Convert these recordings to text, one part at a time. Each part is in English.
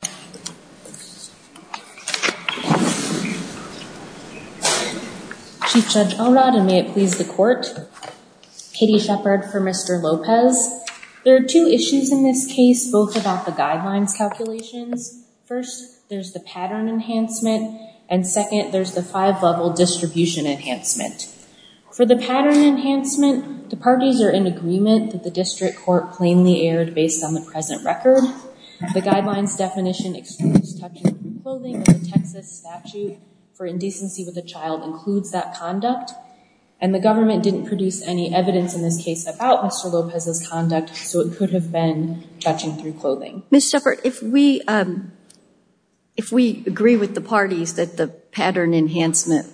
there are two issues in this case both about the guidelines calculations first there's the pattern enhancement and second there's the five level distribution enhancement for the pattern enhancement the parties are in agreement that the district court plainly aired based on the present record the guidelines definition for indecency with a child includes that conduct and the government didn't produce any evidence in this case about Mr. Lopez's conduct so it could have been touching through clothing. Ms. Shepard if we if we agree with the parties that the pattern enhancement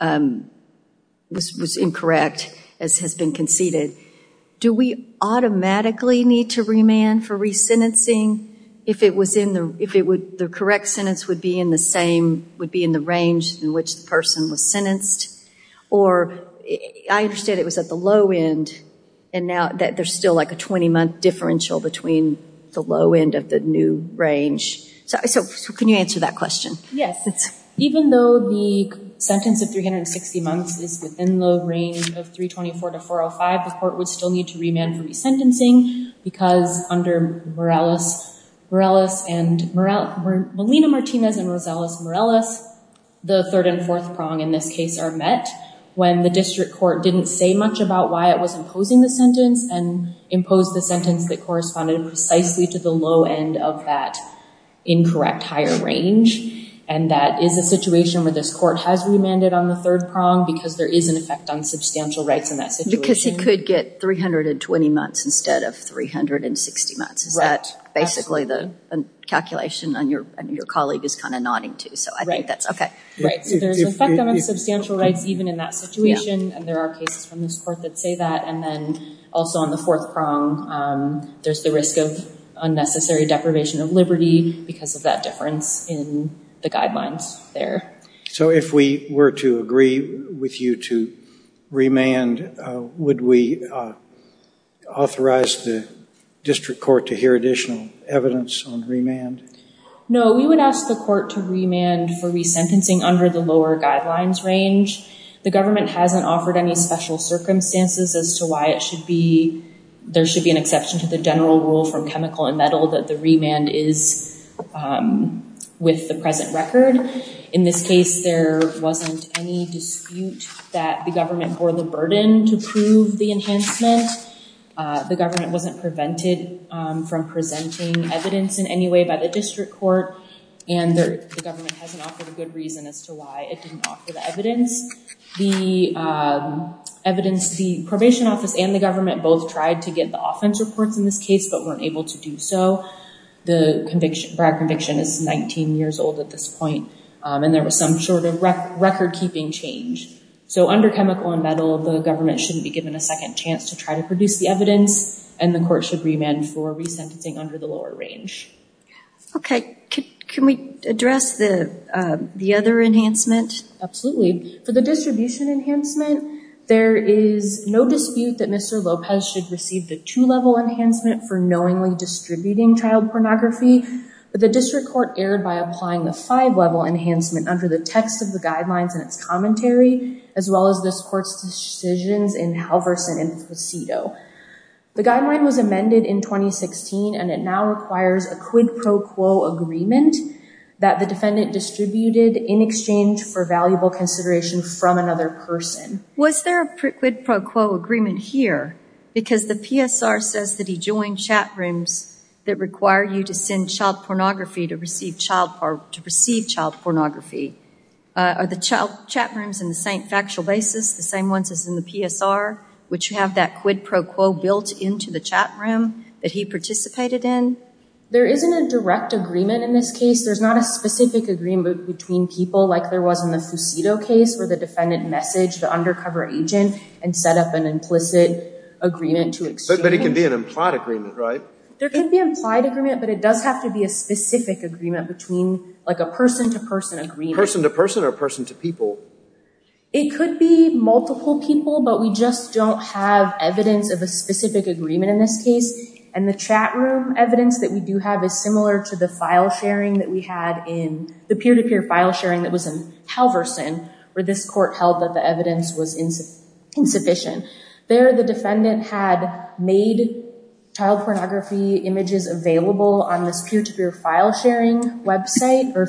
was incorrect as has been conceded do we automatically need to remand for resentencing if it was in the if it would the correct sentence would be in the same would be in the range in which the person was sentenced or I understand it was at the low end and now that there's still like a 20-month differential between the low end of the new range so I so can you answer that question yes it's even though the sentence of 360 months is within the range of 324 to 405 the court would still need to remand for resentencing because under Morales Morales and Molina Martinez and Rosales Morales the third and fourth prong in this case are met when the district court didn't say much about why it was imposing the sentence and imposed the sentence that corresponded precisely to the low end of that incorrect higher range and that is a situation where this court has remanded on the third prong because there is an effect on substantial rights in that situation because he could get 320 months instead of 360 months is that basically the calculation on your and your colleague is kind of nodding to so I think that's okay right so there's an effect on substantial rights even in that situation and there are cases from this court that say that and then also on the fourth prong there's the risk of unnecessary deprivation of liberty because of that difference in the guidelines there so if we were to agree with you to remand would we authorize the district court to hear additional evidence on remand no we would ask the court to remand for resentencing under the lower guidelines range the government hasn't offered any special circumstances as to why it should be there should be an exception to the general rule from chemical and metal that the remand is with the present record in this case there wasn't any dispute that the government bore the burden to prove the enhancement the government wasn't prevented from presenting evidence in any way by the district court and the government hasn't offered a good reason as to why it didn't offer the evidence the evidence the probation office and the government both tried to get the offense reports in this case but weren't able to do so the conviction Brad conviction is 19 years old at this point and there was some sort of record-keeping change so under chemical and metal of the government shouldn't be given a second chance to try to produce the evidence and the court should remand for resentencing under the lower range okay can we address the the other enhancement absolutely for the distribution enhancement there is no dispute that mr. Lopez should receive the two level enhancement for knowingly distributing child pornography but the district court erred by applying the five-level enhancement under the text of the guidelines and its commentary as well as this court's decisions in Halverson and Placido the guideline was amended in 2016 and it now requires a quid pro quo agreement that the defendant distributed in exchange for valuable consideration from another person was there a quid pro quo agreement here because the PSR says that he joined chat rooms that require you to send child pornography to receive child part to receive child pornography are the child chat rooms in the same factual basis the same ones as in the PSR which you have that quid pro quo built into the chat room that he participated in there isn't a direct agreement in this case there's not a specific agreement between people like there was in the Fusido case where the defendant messaged the undercover agent and set up an implicit agreement to accept but it can be an implied agreement right there can be implied agreement but it does have to be a specific agreement between like a person to person agree person to person or person to people it could be multiple people but we just don't have evidence of a specific agreement in this case and the chat room evidence that we do have is similar to the file sharing that we had in the peer-to-peer file sharing that was in Halverson where this court held that the evidence was insufficient there the defendant had made child pornography images available on this peer-to-peer file sharing website or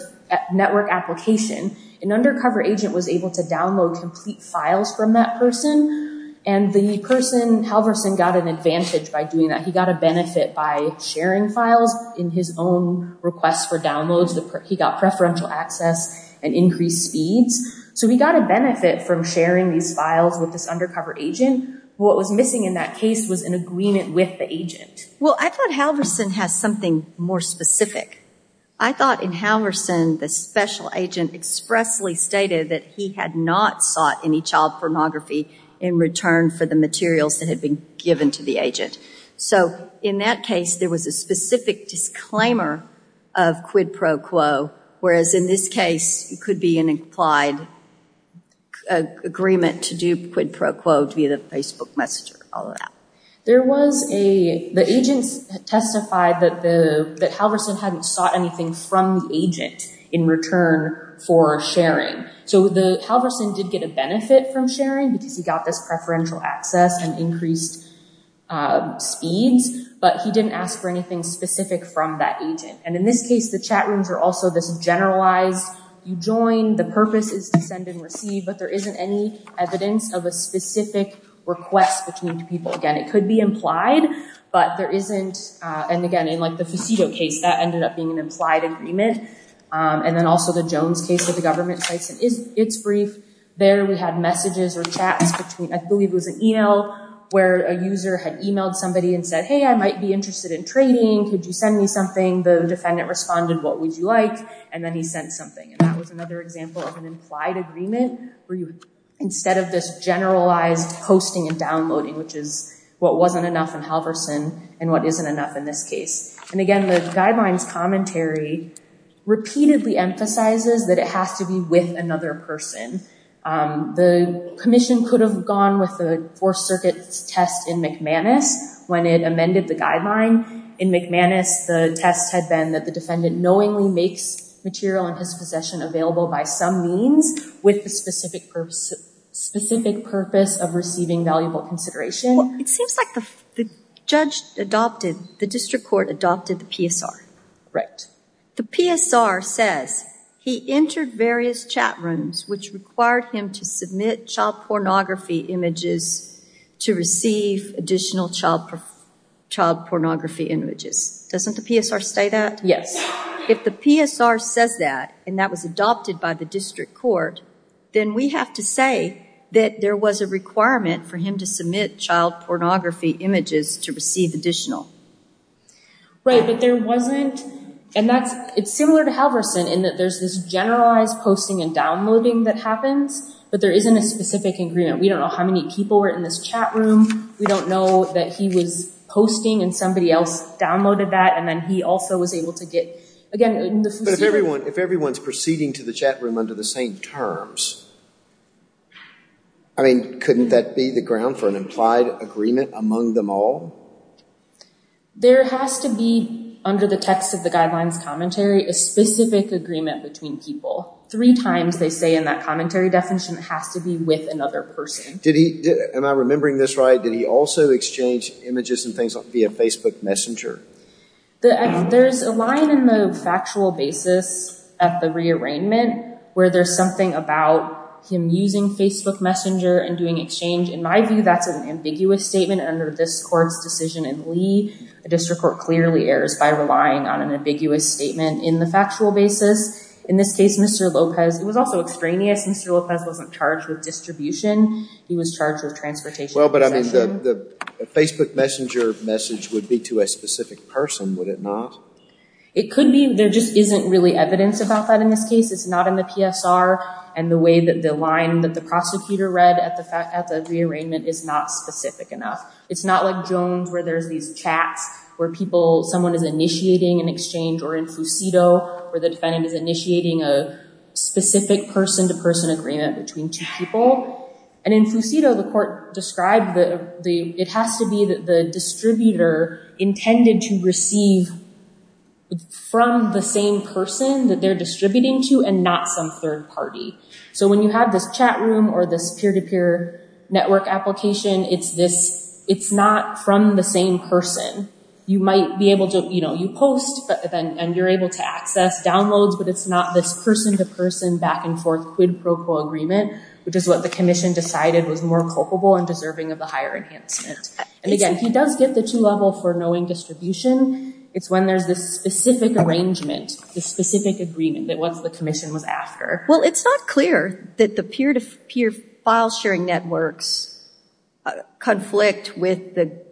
network application an undercover agent was able to download complete files from that person and the person Halverson got an advantage by doing that he got a benefit by sharing files in his own requests for downloads that he got preferential access and increased speeds so we got a benefit from sharing these files with this undercover agent what was missing in that case was an agreement with the agent well I thought Halverson has something more specific I thought in Halverson the special agent expressly stated that he had not sought any child pornography in return for the materials that had been given to the agent so in that case there was a specific disclaimer of quid pro quo whereas in this case it could be an implied agreement to do quid pro quo to be the Facebook messenger all of that there was a the agents testified that the that Halverson hadn't sought anything from the agent in return for sharing so the Halverson did get a benefit from sharing because he got this preferential access and increased speeds but he didn't ask for anything specific from that agent and in this case the chat rooms are also this generalized you join the purpose is to send and receive but there isn't any evidence of a specific request between two people again it could be implied but there isn't and again in like the facetio case that ended up being an implied agreement and then also the Jones case of the government sites and is it's brief there we had messages or chats between I believe it was an email where a user had emailed somebody and said hey I might be interested in trading could you send me something the defendant responded what would you like and then he sent something and that was another example of an implied agreement where you instead of this generalized hosting and downloading which is what wasn't enough and Halverson and what isn't enough in this case and again the guidelines commentary repeatedly emphasizes that it has to be with another person the Commission could have gone with the four circuits test in McManus when it amended the guideline in McManus the test had been that the defendant knowingly makes material in his possession available by some means with the specific purpose specific purpose of receiving valuable consideration it seems like the judge adopted the district court adopted the PSR right the PSR says he entered pornography images to receive additional child child pornography images doesn't the PSR state that yes if the PSR says that and that was adopted by the district court then we have to say that there was a requirement for him to submit child pornography images to receive additional right but there wasn't and that's it's similar to Halverson in that there's this generalized posting and downloading that happens but there isn't a specific agreement we don't know how many people were in this chat room we don't know that he was posting and somebody else downloaded that and then he also was able to get again if everyone if everyone's proceeding to the chat room under the same terms I mean couldn't that be the ground for an implied agreement among them all there has to be under the text of the guidelines commentary a specific agreement between people three times they say in that commentary definition has to be with another person did he am I remembering this right did he also exchange images and things on via Facebook messenger the there's a line in the factual basis at the rearrangement where there's something about him using Facebook messenger and doing exchange in my view that's an ambiguous statement under this courts decision and Lee a district court clearly errors by relying on an ambiguous statement in the factual basis in this case mr. Lopez it was also extraneous mr. Lopez wasn't charged with distribution he was charged with transportation well but I mean the Facebook messenger message would be to a specific person would it not it could be there just isn't really evidence about that in this case it's not in the PSR and the way that the line that the prosecutor read at the fact at the rearrangement is not specific enough it's not like Jones where there's these chats where people someone is initiating an exchange or in Fusido where the defendant is initiating a specific person-to-person agreement between two people and in Fusido the court described that the it has to be that the distributor intended to receive from the same person that they're distributing to and not some third party so when you have this chat room or this peer-to-peer network application it's this it's not from the same person you might be able to you know you post but then and you're able to access downloads but it's not this person-to-person back-and-forth quid pro quo agreement which is what the Commission decided was more culpable and deserving of the higher enhancement and again he does get the two-level for knowing distribution it's when there's this specific arrangement the specific agreement that what's the Commission was after well it's not clear that the peer-to-peer file sharing networks conflict with the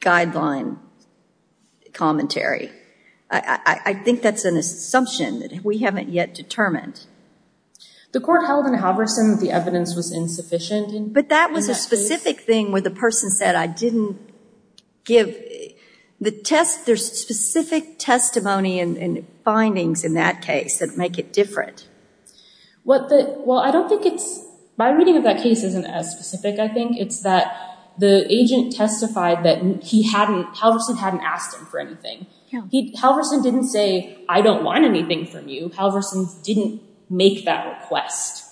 guideline commentary I think that's an assumption that we haven't yet determined the court held in Halverson the evidence was insufficient but that was a specific thing where the person said I didn't give the test their specific testimony and findings in that case that make it different what the well I don't think it's my reading of that case isn't as specific I think it's that the agent testified that he hadn't Halverson hadn't asked him for anything he Halverson didn't say I don't want anything from you Halverson's didn't make that request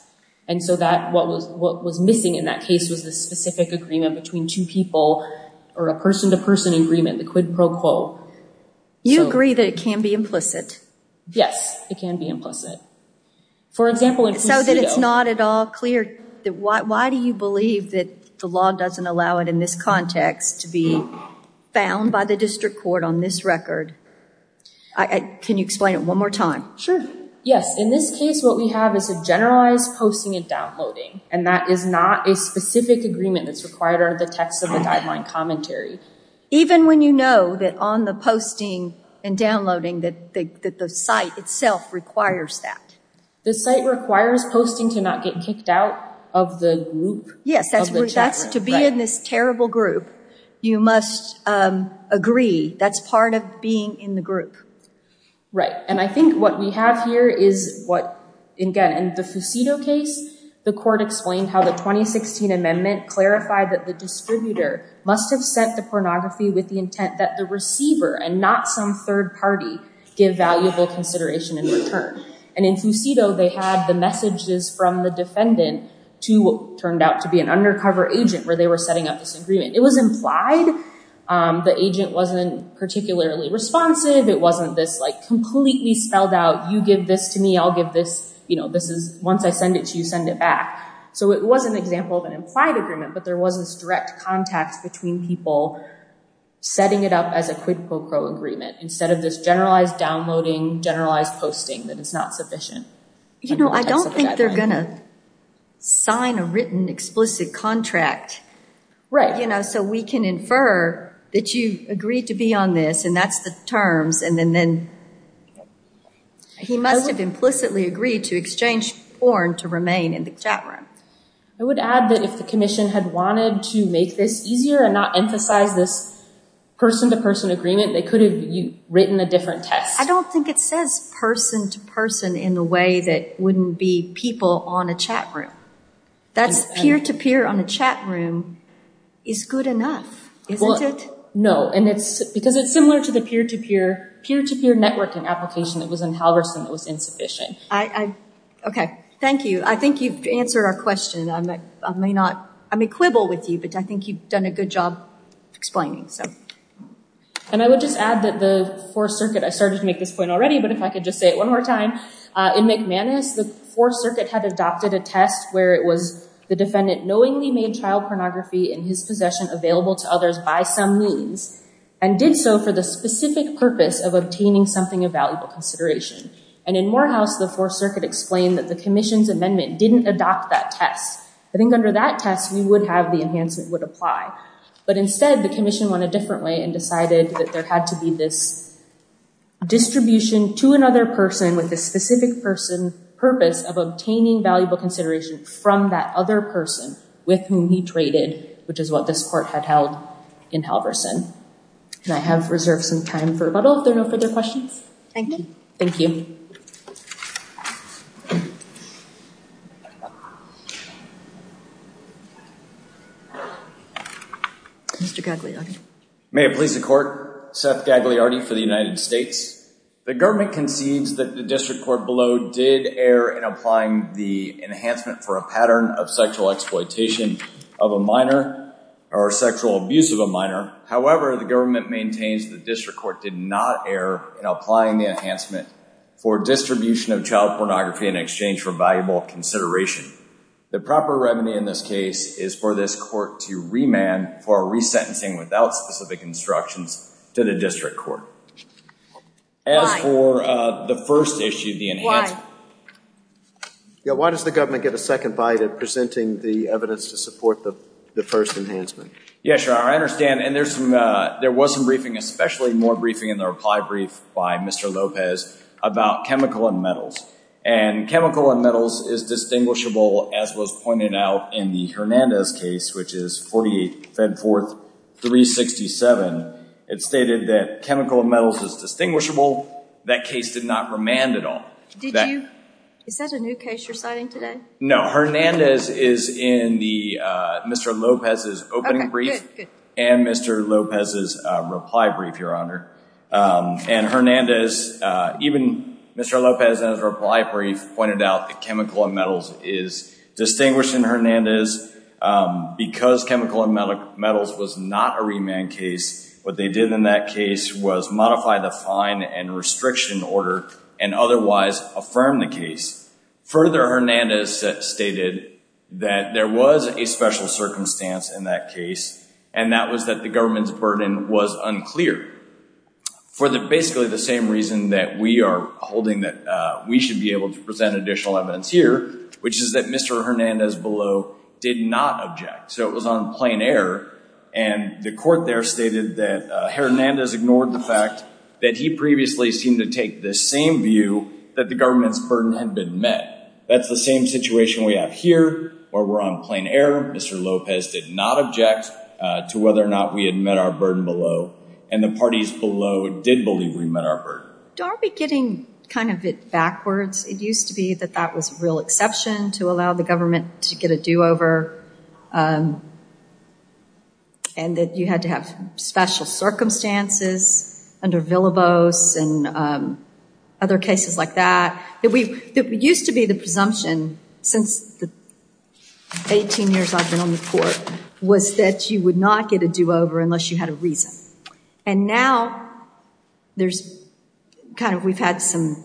and so that what was what was missing in that case was the specific agreement between two or a person-to-person agreement the quid pro quo you agree that it can be implicit yes it can be implicit for example it's not that it's not at all clear that why do you believe that the law doesn't allow it in this context to be found by the district court on this record I can you explain it one more time sure yes in this case what we have is a generalized posting and downloading and that is not a specific agreement that's required or the text of the guideline commentary even when you know that on the posting and downloading that the site itself requires that the site requires posting to not get kicked out of the group yes that's that's to be in this terrible group you must agree that's part of being in the group right and I think what we have here is what again in the Fusido case the court explained how the 2016 amendment clarified that the distributor must have sent the pornography with the intent that the receiver and not some third party give valuable consideration in return and in Fusido they had the messages from the defendant to turned out to be an undercover agent where they were setting up this agreement it was implied the agent wasn't particularly responsive it wasn't this like completely spelled out you give this to me I'll give this you know this is once I send it to you send it back so it was an example of an implied agreement but there was this direct contact between people setting it up as a quid quo pro agreement instead of this generalized downloading generalized posting that it's not sufficient you know I don't think they're gonna sign a written explicit contract right you know so we can infer that you agreed to be on this and that's the terms and then then he must have implicitly agreed to exchange porn to remain in the chat room I would add that if the Commission had wanted to make this easier and not emphasize this person-to-person agreement they could have written a different test I don't think it says person-to-person in the way that wouldn't be people on a chat room that's peer-to-peer on a chat room is good enough isn't it no and it's because it's similar to the peer-to-peer peer-to-peer networking application that was in I okay thank you I think you've answered our question I'm not I may not I'm a quibble with you but I think you've done a good job explaining so and I would just add that the Fourth Circuit I started to make this point already but if I could just say it one more time in McManus the Fourth Circuit had adopted a test where it was the defendant knowingly made child pornography in his possession available to others by some means and did so for the specific purpose of obtaining something of valuable consideration and in Morehouse the Fourth Circuit explained that the Commission's amendment didn't adopt that test I think under that test we would have the enhancement would apply but instead the Commission went a different way and decided that there had to be this distribution to another person with a specific person purpose of obtaining valuable consideration from that other person with whom he traded which is what this court had held in Halverson and I have reserved some time for rebuttal if there are no further questions thank you Mr. Gagliardi. May it please the court, Seth Gagliardi for the United States. The government concedes that the district court below did err in applying the enhancement for a pattern of sexual exploitation of a minor or sexual abuse of a minor however the government maintains the district court did not err in applying the enhancement for distribution of child pornography in exchange for valuable consideration the proper remedy in this case is for this court to remand for resentencing without specific instructions to the district court. As for the first issue the why does the government get a second bite at presenting the evidence to support the first enhancement? Yes sir I understand and there's some there was some briefing especially more briefing in the reply brief by Mr. Lopez about chemical and metals and chemical and metals is distinguishable as was pointed out in the Hernandez case which is 48 fed forth 367 it stated that chemical and metals is distinguishable that case did not remand at all. Is that a new case you're citing today? No Hernandez is in the Mr. Lopez's opening brief and Mr. Lopez's reply brief your honor and Hernandez even Mr. Lopez in his reply brief pointed out that chemical and metals is distinguished in Hernandez because chemical and metals was not a remand case what they did in that case was modify the fine and restriction order and otherwise affirm the case further Hernandez stated that there was a special circumstance in that case and that was that the government's burden was unclear for the basically the same reason that we are holding that we should be able to present additional evidence here which is that Mr. Hernandez below did not object so it was on plain error and the report there stated that Hernandez ignored the fact that he previously seemed to take this same view that the government's burden had been met that's the same situation we have here where we're on plain error Mr. Lopez did not object to whether or not we had met our burden below and the parties below did believe we met our burden. Don't be getting kind of it backwards it used to be that that was a real exception to allow the government to get a do-over and that you had to have special circumstances under Villalobos and other cases like that that we used to be the presumption since the 18 years I've been on the court was that you would not get a do-over unless you had a reason and now there's kind of we've had some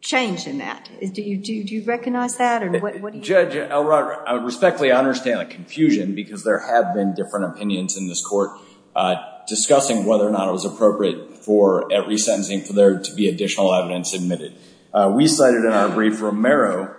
change in that is do you do you recognize that and what Judge Elrod I respectfully understand a confusion because there have been different opinions in this court discussing whether or not it was appropriate for every sentencing for there to be additional evidence admitted we cited in our brief Romero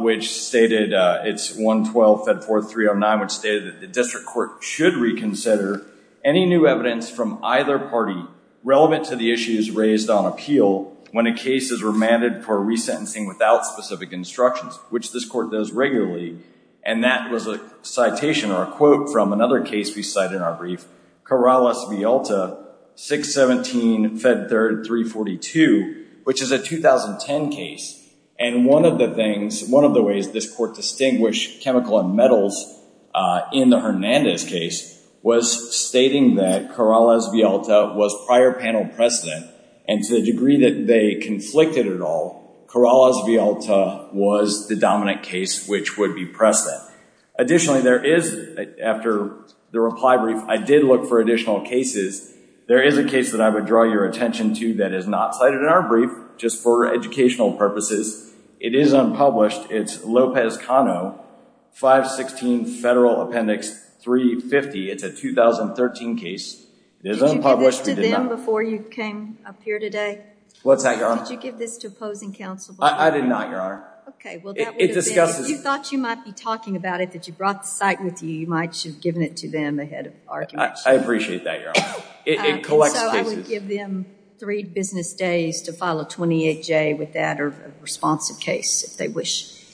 which stated it's 112 fed 4309 which stated that district court should reconsider any new evidence from either party relevant to the issues raised on appeal when a case is remanded for resentencing without specific instructions which this court does regularly and that was a citation or a quote from another case we cite in our brief Corrales V. Alta 617 fed 332 which is a 2010 case and one of the things one of the ways this court chemical and metals in the Hernandez case was stating that Corrales V. Alta was prior panel precedent and to the degree that they conflicted at all Corrales V. Alta was the dominant case which would be precedent additionally there is after the reply brief I did look for additional cases there is a case that I would draw your attention to that is not cited in our brief just for educational purposes it is unpublished it's Lopez Cano 516 federal appendix 350 it's a 2013 case it is unpublished before you came up here today what's that you give this to opposing counsel I did not your honor you thought you might be talking about it that you brought the site with you you might have given it to them ahead of our I appreciate that your honor it collects three business days to file a 28 J with that or responsive case if they wish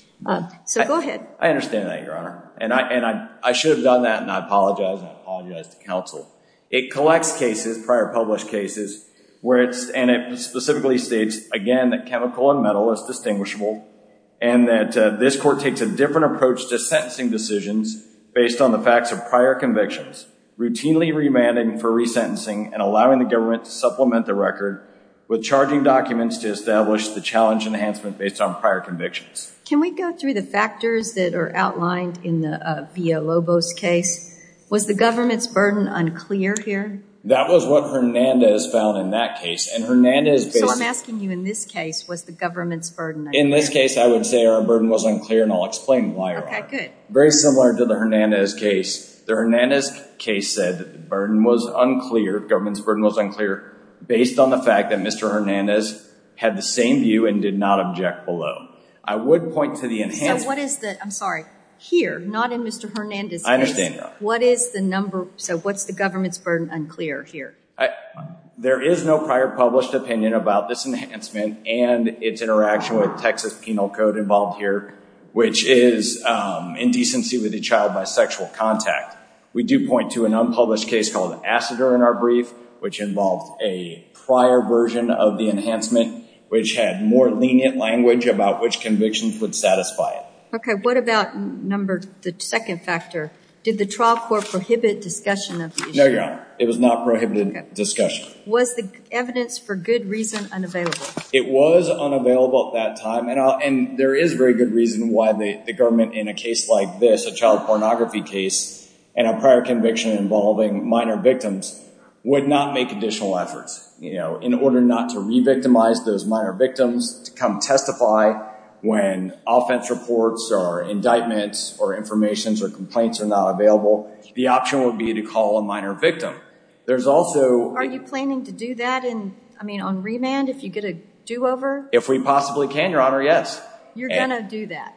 so go ahead I understand that your honor and I and I should have done that and I apologize I apologize to counsel it collects cases prior published cases where it's and it specifically states again that chemical and metal is distinguishable and that this court takes a different approach to sentencing decisions based on the facts of prior convictions routinely remanded for resentencing and allowing the government to supplement the record with charging documents to establish the challenge enhancement based on prior convictions can we go through the factors that are outlined in the via Lobos case was the government's burden unclear here that was what Hernandez found in that case and Hernandez I'm asking you in this case was the government's burden in this case I would say our burden was unclear and I'll explain why good very similar to the Hernandez case the Hernandez case said that the burden was unclear government's burden was unclear based on the fact that mr. Hernandez had the same view and did not object below I would point to the enhance what is that I'm sorry here not in mr. Hernandez I understand what is the number so what's the government's burden unclear here I there is no prior published opinion about this enhancement and its interaction with Texas penal code involved here which is indecency with a child by sexual contact we do point to an unpublished case called acid or in our brief which involved a prior version of the enhancement which had more lenient language about which convictions would satisfy it okay what about number the second factor did the trial for prohibit discussion of no your honor it was not prohibited discussion was the evidence for good reason unavailable it was unavailable at that time and I'll and there is very good reason why the government in a case like this a child conviction involving minor victims would not make additional efforts you know in order not to re-victimize those minor victims to come testify when offense reports are indictments or informations or complaints are not available the option would be to call a minor victim there's also are you planning to do that and I mean on remand if you get a do-over if we possibly can your honor yes you're gonna do that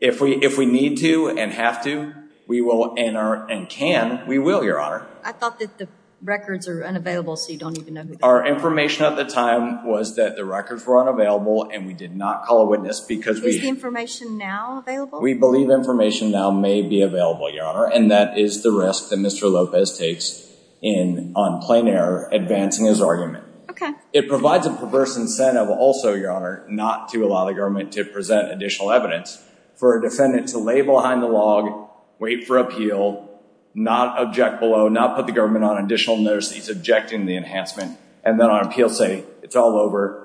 if we if we need to and have to we will enter and can we will your honor I thought that the records are unavailable so you don't even know our information at the time was that the records were unavailable and we did not call a witness because we information now we believe information now may be available your honor and that is the risk that mr. Lopez takes in on plain error advancing his argument okay it provides a perverse incentive also your honor not to allow the government to present additional evidence for a defendant to lay behind the log wait for appeal not object below not put the government on additional notice that he's objecting the enhancement and then on appeal say it's all over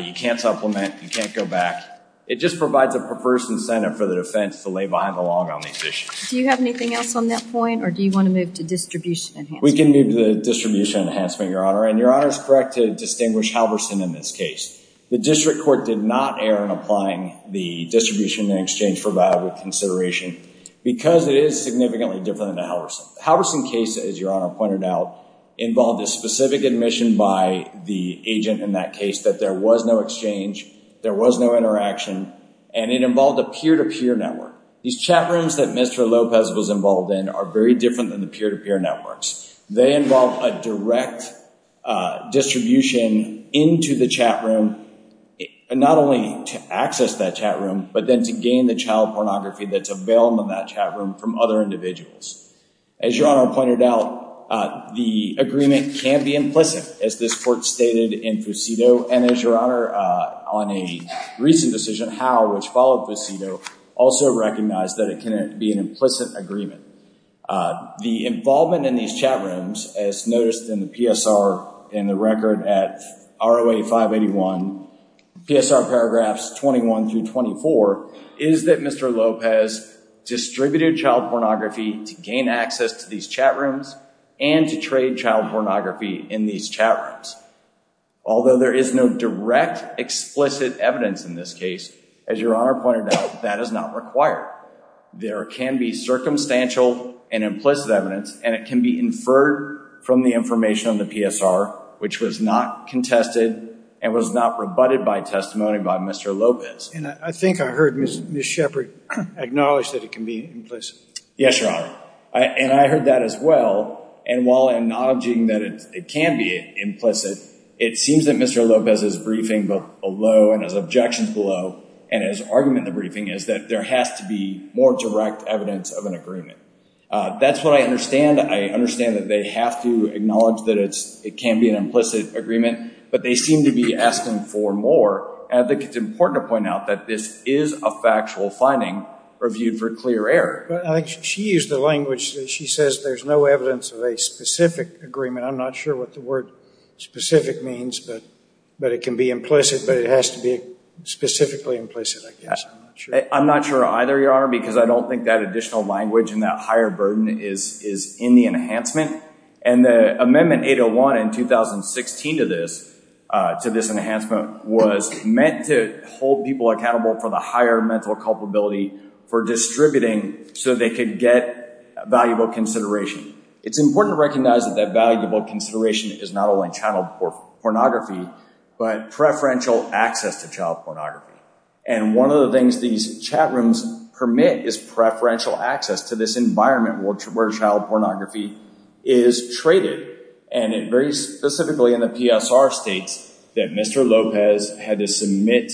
you can't supplement you can't go back it just provides a perverse incentive for the defense to lay behind the log on these issues do you have anything else on that point or do you want to move to distribution we can move the distribution enhancement your honor and your honor is correct to distinguish Halverson in this case the district court did not err in applying the distribution in exchange for valuable consideration because it is significantly different than the Halverson Halverson case as your honor pointed out involved a specific admission by the agent in that case that there was no exchange there was no interaction and it involved a peer-to-peer network these chat rooms that mr. Lopez was involved in are very different than the peer-to-peer networks they involved a direct distribution into the chat room and not only to access that chat room but then to gain the child pornography that's available in that chat room from other individuals as your honor pointed out the agreement can be implicit as this court stated in Fusido and as your honor on a recent decision how which followed Fusido also recognized that it can be an implicit agreement the involvement in these chat rooms as noticed in the PSR in the record at ROA 581 PSR paragraphs 21 through 24 is that mr. Lopez distributed child pornography to gain access to these chat rooms and to trade child pornography in these chat rooms although there is no direct explicit evidence in this case as your honor pointed out that is not required there can be circumstantial and implicit evidence and it can be inferred from the information on the PSR which was not contested and was not rebutted by testimony by mr. Lopez and I think I heard miss miss Shepard acknowledged that it can be implicit yes your honor and I heard that as well and while I'm not objecting that it can be implicit it seems that mr. Lopez is briefing both below and as objections below and as argument the briefing is that there has to be more direct evidence of an agreement that's what I understand I understand that they have to acknowledge that it's it can be an implicit agreement but they seem to be asking for more and I think it's important to point out that this is a factual finding reviewed for clear error but I think she used the language she says there's no evidence of a specific agreement I'm not sure what the word specific means but but it can be implicit but it has to be specifically I'm not sure either your honor because I don't think that additional language and that higher burden is is in the enhancement and the amendment 801 in 2016 to this to this enhancement was meant to hold people accountable for the higher mental culpability for distributing so they could get valuable consideration it's important to recognize that that valuable consideration is not only channel pornography but preferential access to child pornography and one of the things these chat rooms permit is preferential access to this environment which where child pornography is traded and it very specifically in the PSR states that mr. Lopez had to submit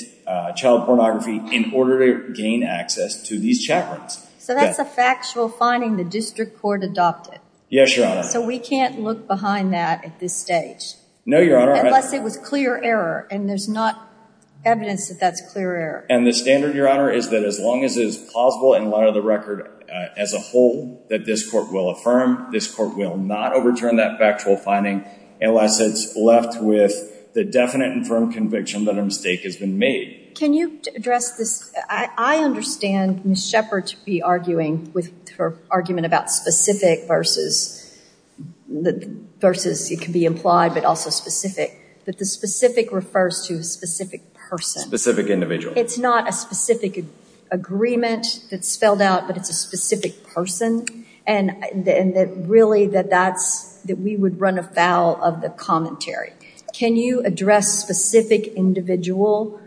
child pornography in order to gain access to these chat rooms so that's a factual finding the district court adopted yes so we can't look behind that at this stage no your honor unless it was clear error and there's not evidence that that's clear error and the standard your honor is that as long as it is plausible in light of the record as a whole that this court will affirm this court will not overturn that factual finding unless it's left with the definite and firm conviction that a mistake has been made can you address this I understand miss shepherd to be arguing with her argument about specific versus the versus it can be implied but also specific but the specific refers to a specific person specific individual it's not a specific agreement that's spelled out but it's a specific person and then that really that that's that we would run afoul of the commentary can you address specific individual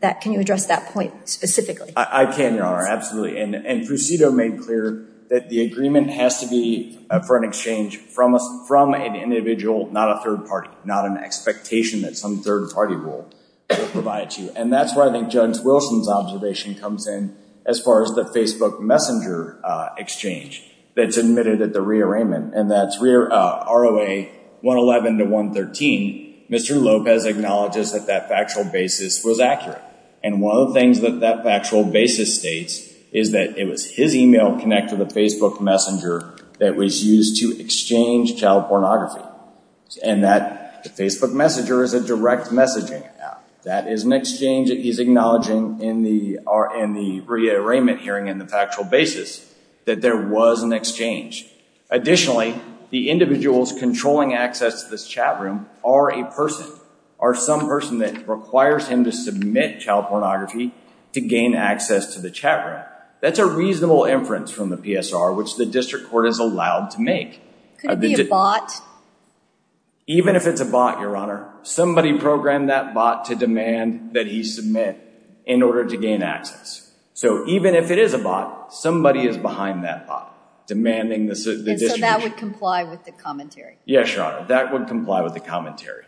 that can you address that point specifically I can your honor absolutely and procedo made clear that the agreement has to be for an exchange from us from an individual not a third party not an expectation that some third party rule will provide you and that's where I think jones wilson's observation comes in as far as the facebook messenger exchange that's admitted at the rearrangement and that's rear roa 111 to 113 mr lopez acknowledges that that factual basis was accurate and one of the things that that factual basis states is that it was his email connect to the facebook messenger that was used to exchange child pornography and that the facebook messenger is a direct messaging app that is an exchange he's acknowledging in the are in the rearrangement hearing in the factual basis that there was an exchange additionally the individuals controlling access to this chat room are a person are some person that requires him to submit child pornography to gain access to the chat room that's a reasonable inference from the psr which the district court is allowed to make could it be a bot even if it's a bot your honor somebody programmed that bot to demand that he submit in order to gain access so even if it is a bot somebody is behind that bot demanding this so that would comply with the commentary yes your honor that would comply with the commentary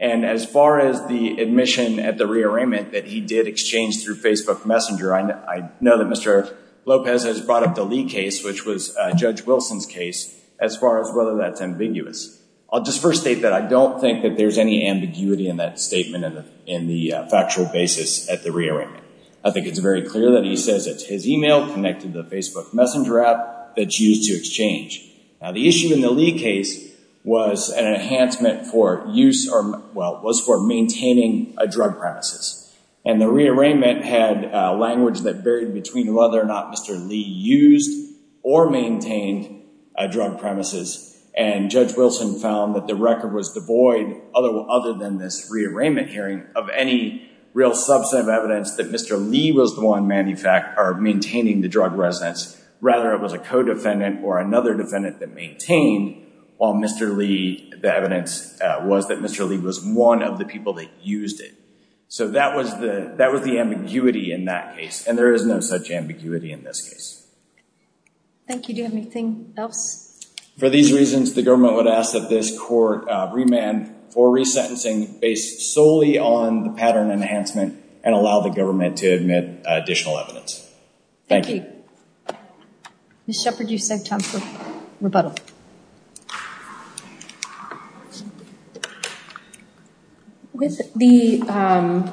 and as far as the admission at the rearrangement that he did exchange through facebook messenger i know that mr lopez has brought up the lee case which was judge wilson's case as far as whether that's ambiguous i'll just first state that i don't think that there's any ambiguity in that statement in the factual basis at the rearrangement i think it's very clear that he says it's his email connected to the facebook messenger app that's used to exchange now the issue in the lee case was an enhancement for use or well was for maintaining a drug premises and the rearrangement had language that varied between whether or not mr lee used or maintained a drug premises and judge wilson found that the record was devoid other other than this rearrangement hearing of any real subset of evidence that mr lee was the one manufacturer maintaining the drug residence rather it was a co-defendant or another defendant that maintained while mr lee the evidence was that mr lee was one of the people that used it so that was the that was the ambiguity in that case and there is no such ambiguity in this case thank you do you have anything else for these reasons the government would ask that this court remand for resentencing based solely on the pattern enhancement and allow the government to admit additional evidence thank you miss shepherd you said time for rebuttal with the um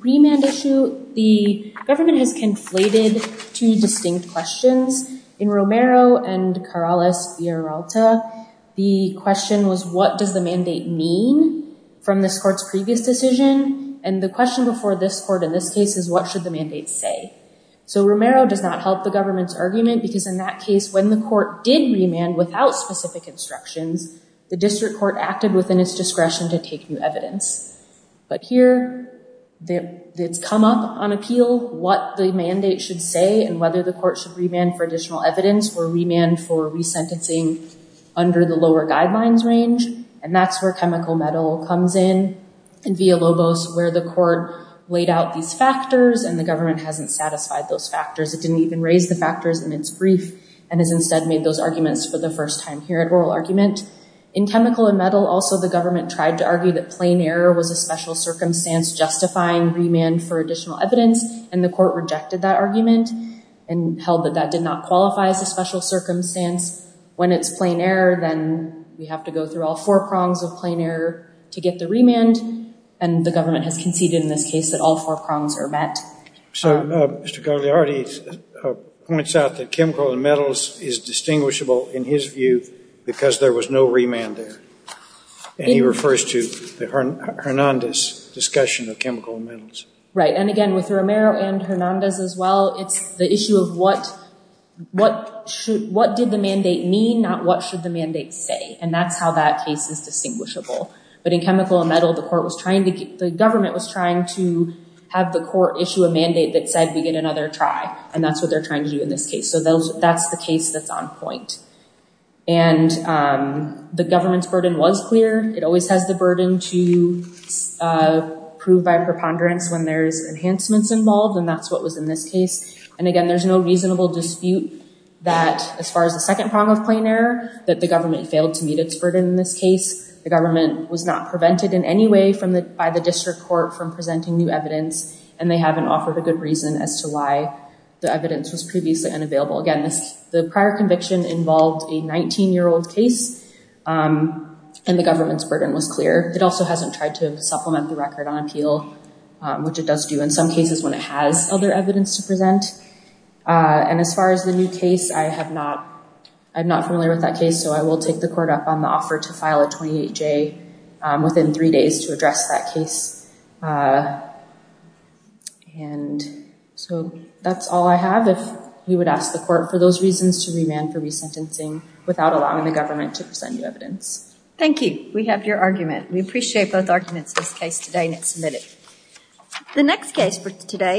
remand issue the government has conflated two distinct questions in romero and carales via ralta the question was what does the mandate mean from this court's previous decision and the question before this court in this case is what should the mandate say so romero does not help the government's argument because in that case when the court did remand without specific instructions the district court acted within its discretion to take new evidence but here the it's come up on appeal what the mandate should say and whether the court should remand for additional evidence or remand for resentencing under the lower guidelines range and that's where chemical metal comes in and via lobos where the court laid out these factors and the government hasn't satisfied those factors it didn't even raise the factors in its brief and has instead made those arguments for the first time here at oral argument in chemical and metal also the government tried to argue that plain error was a special circumstance justifying remand for additional evidence and the court rejected that argument and held that that did not qualify as a special circumstance when it's plain error then we have to go through all four prongs of plain error to get the remand and the government has conceded in this case that all four prongs are met so uh mr carliardi points out that chemical and metals is distinguishable in his view because there was no remand there and he refers to the hernandez discussion of chemical metals right and again with romero and hernandez as well it's the issue of what what should what did the mandate mean not what should the mandate say and that's how that case is distinguishable but in chemical and metal the court was trying to get the government was trying to have the court issue a mandate that said we get another try and that's what they're trying to do in this case so those that's the case that's on point and um the government's burden was clear it always has the burden to uh prove by preponderance when there's enhancements involved and that's what was in this case and again there's no reasonable dispute that as far as the second prong of plain error that the government failed to meet its burden in this case the government was not prevented in any way from the by the district court from presenting new evidence and they haven't offered a good reason as to why the evidence was previously unavailable again this the prior conviction involved a 19 year old case um and the government's burden was clear it also hasn't tried to supplement the record on appeal which it does do in some cases when it has other evidence to present uh and as far as the new case i have not i'm not familiar with that case so i will take the court up on the offer to file a 28 j within three days to address that case uh and so that's all i have if we would ask the court for those reasons to remand for resentencing without allowing the government to present new evidence thank you we have your argument we appreciate both arguments in this case today and it's submitted the next case for today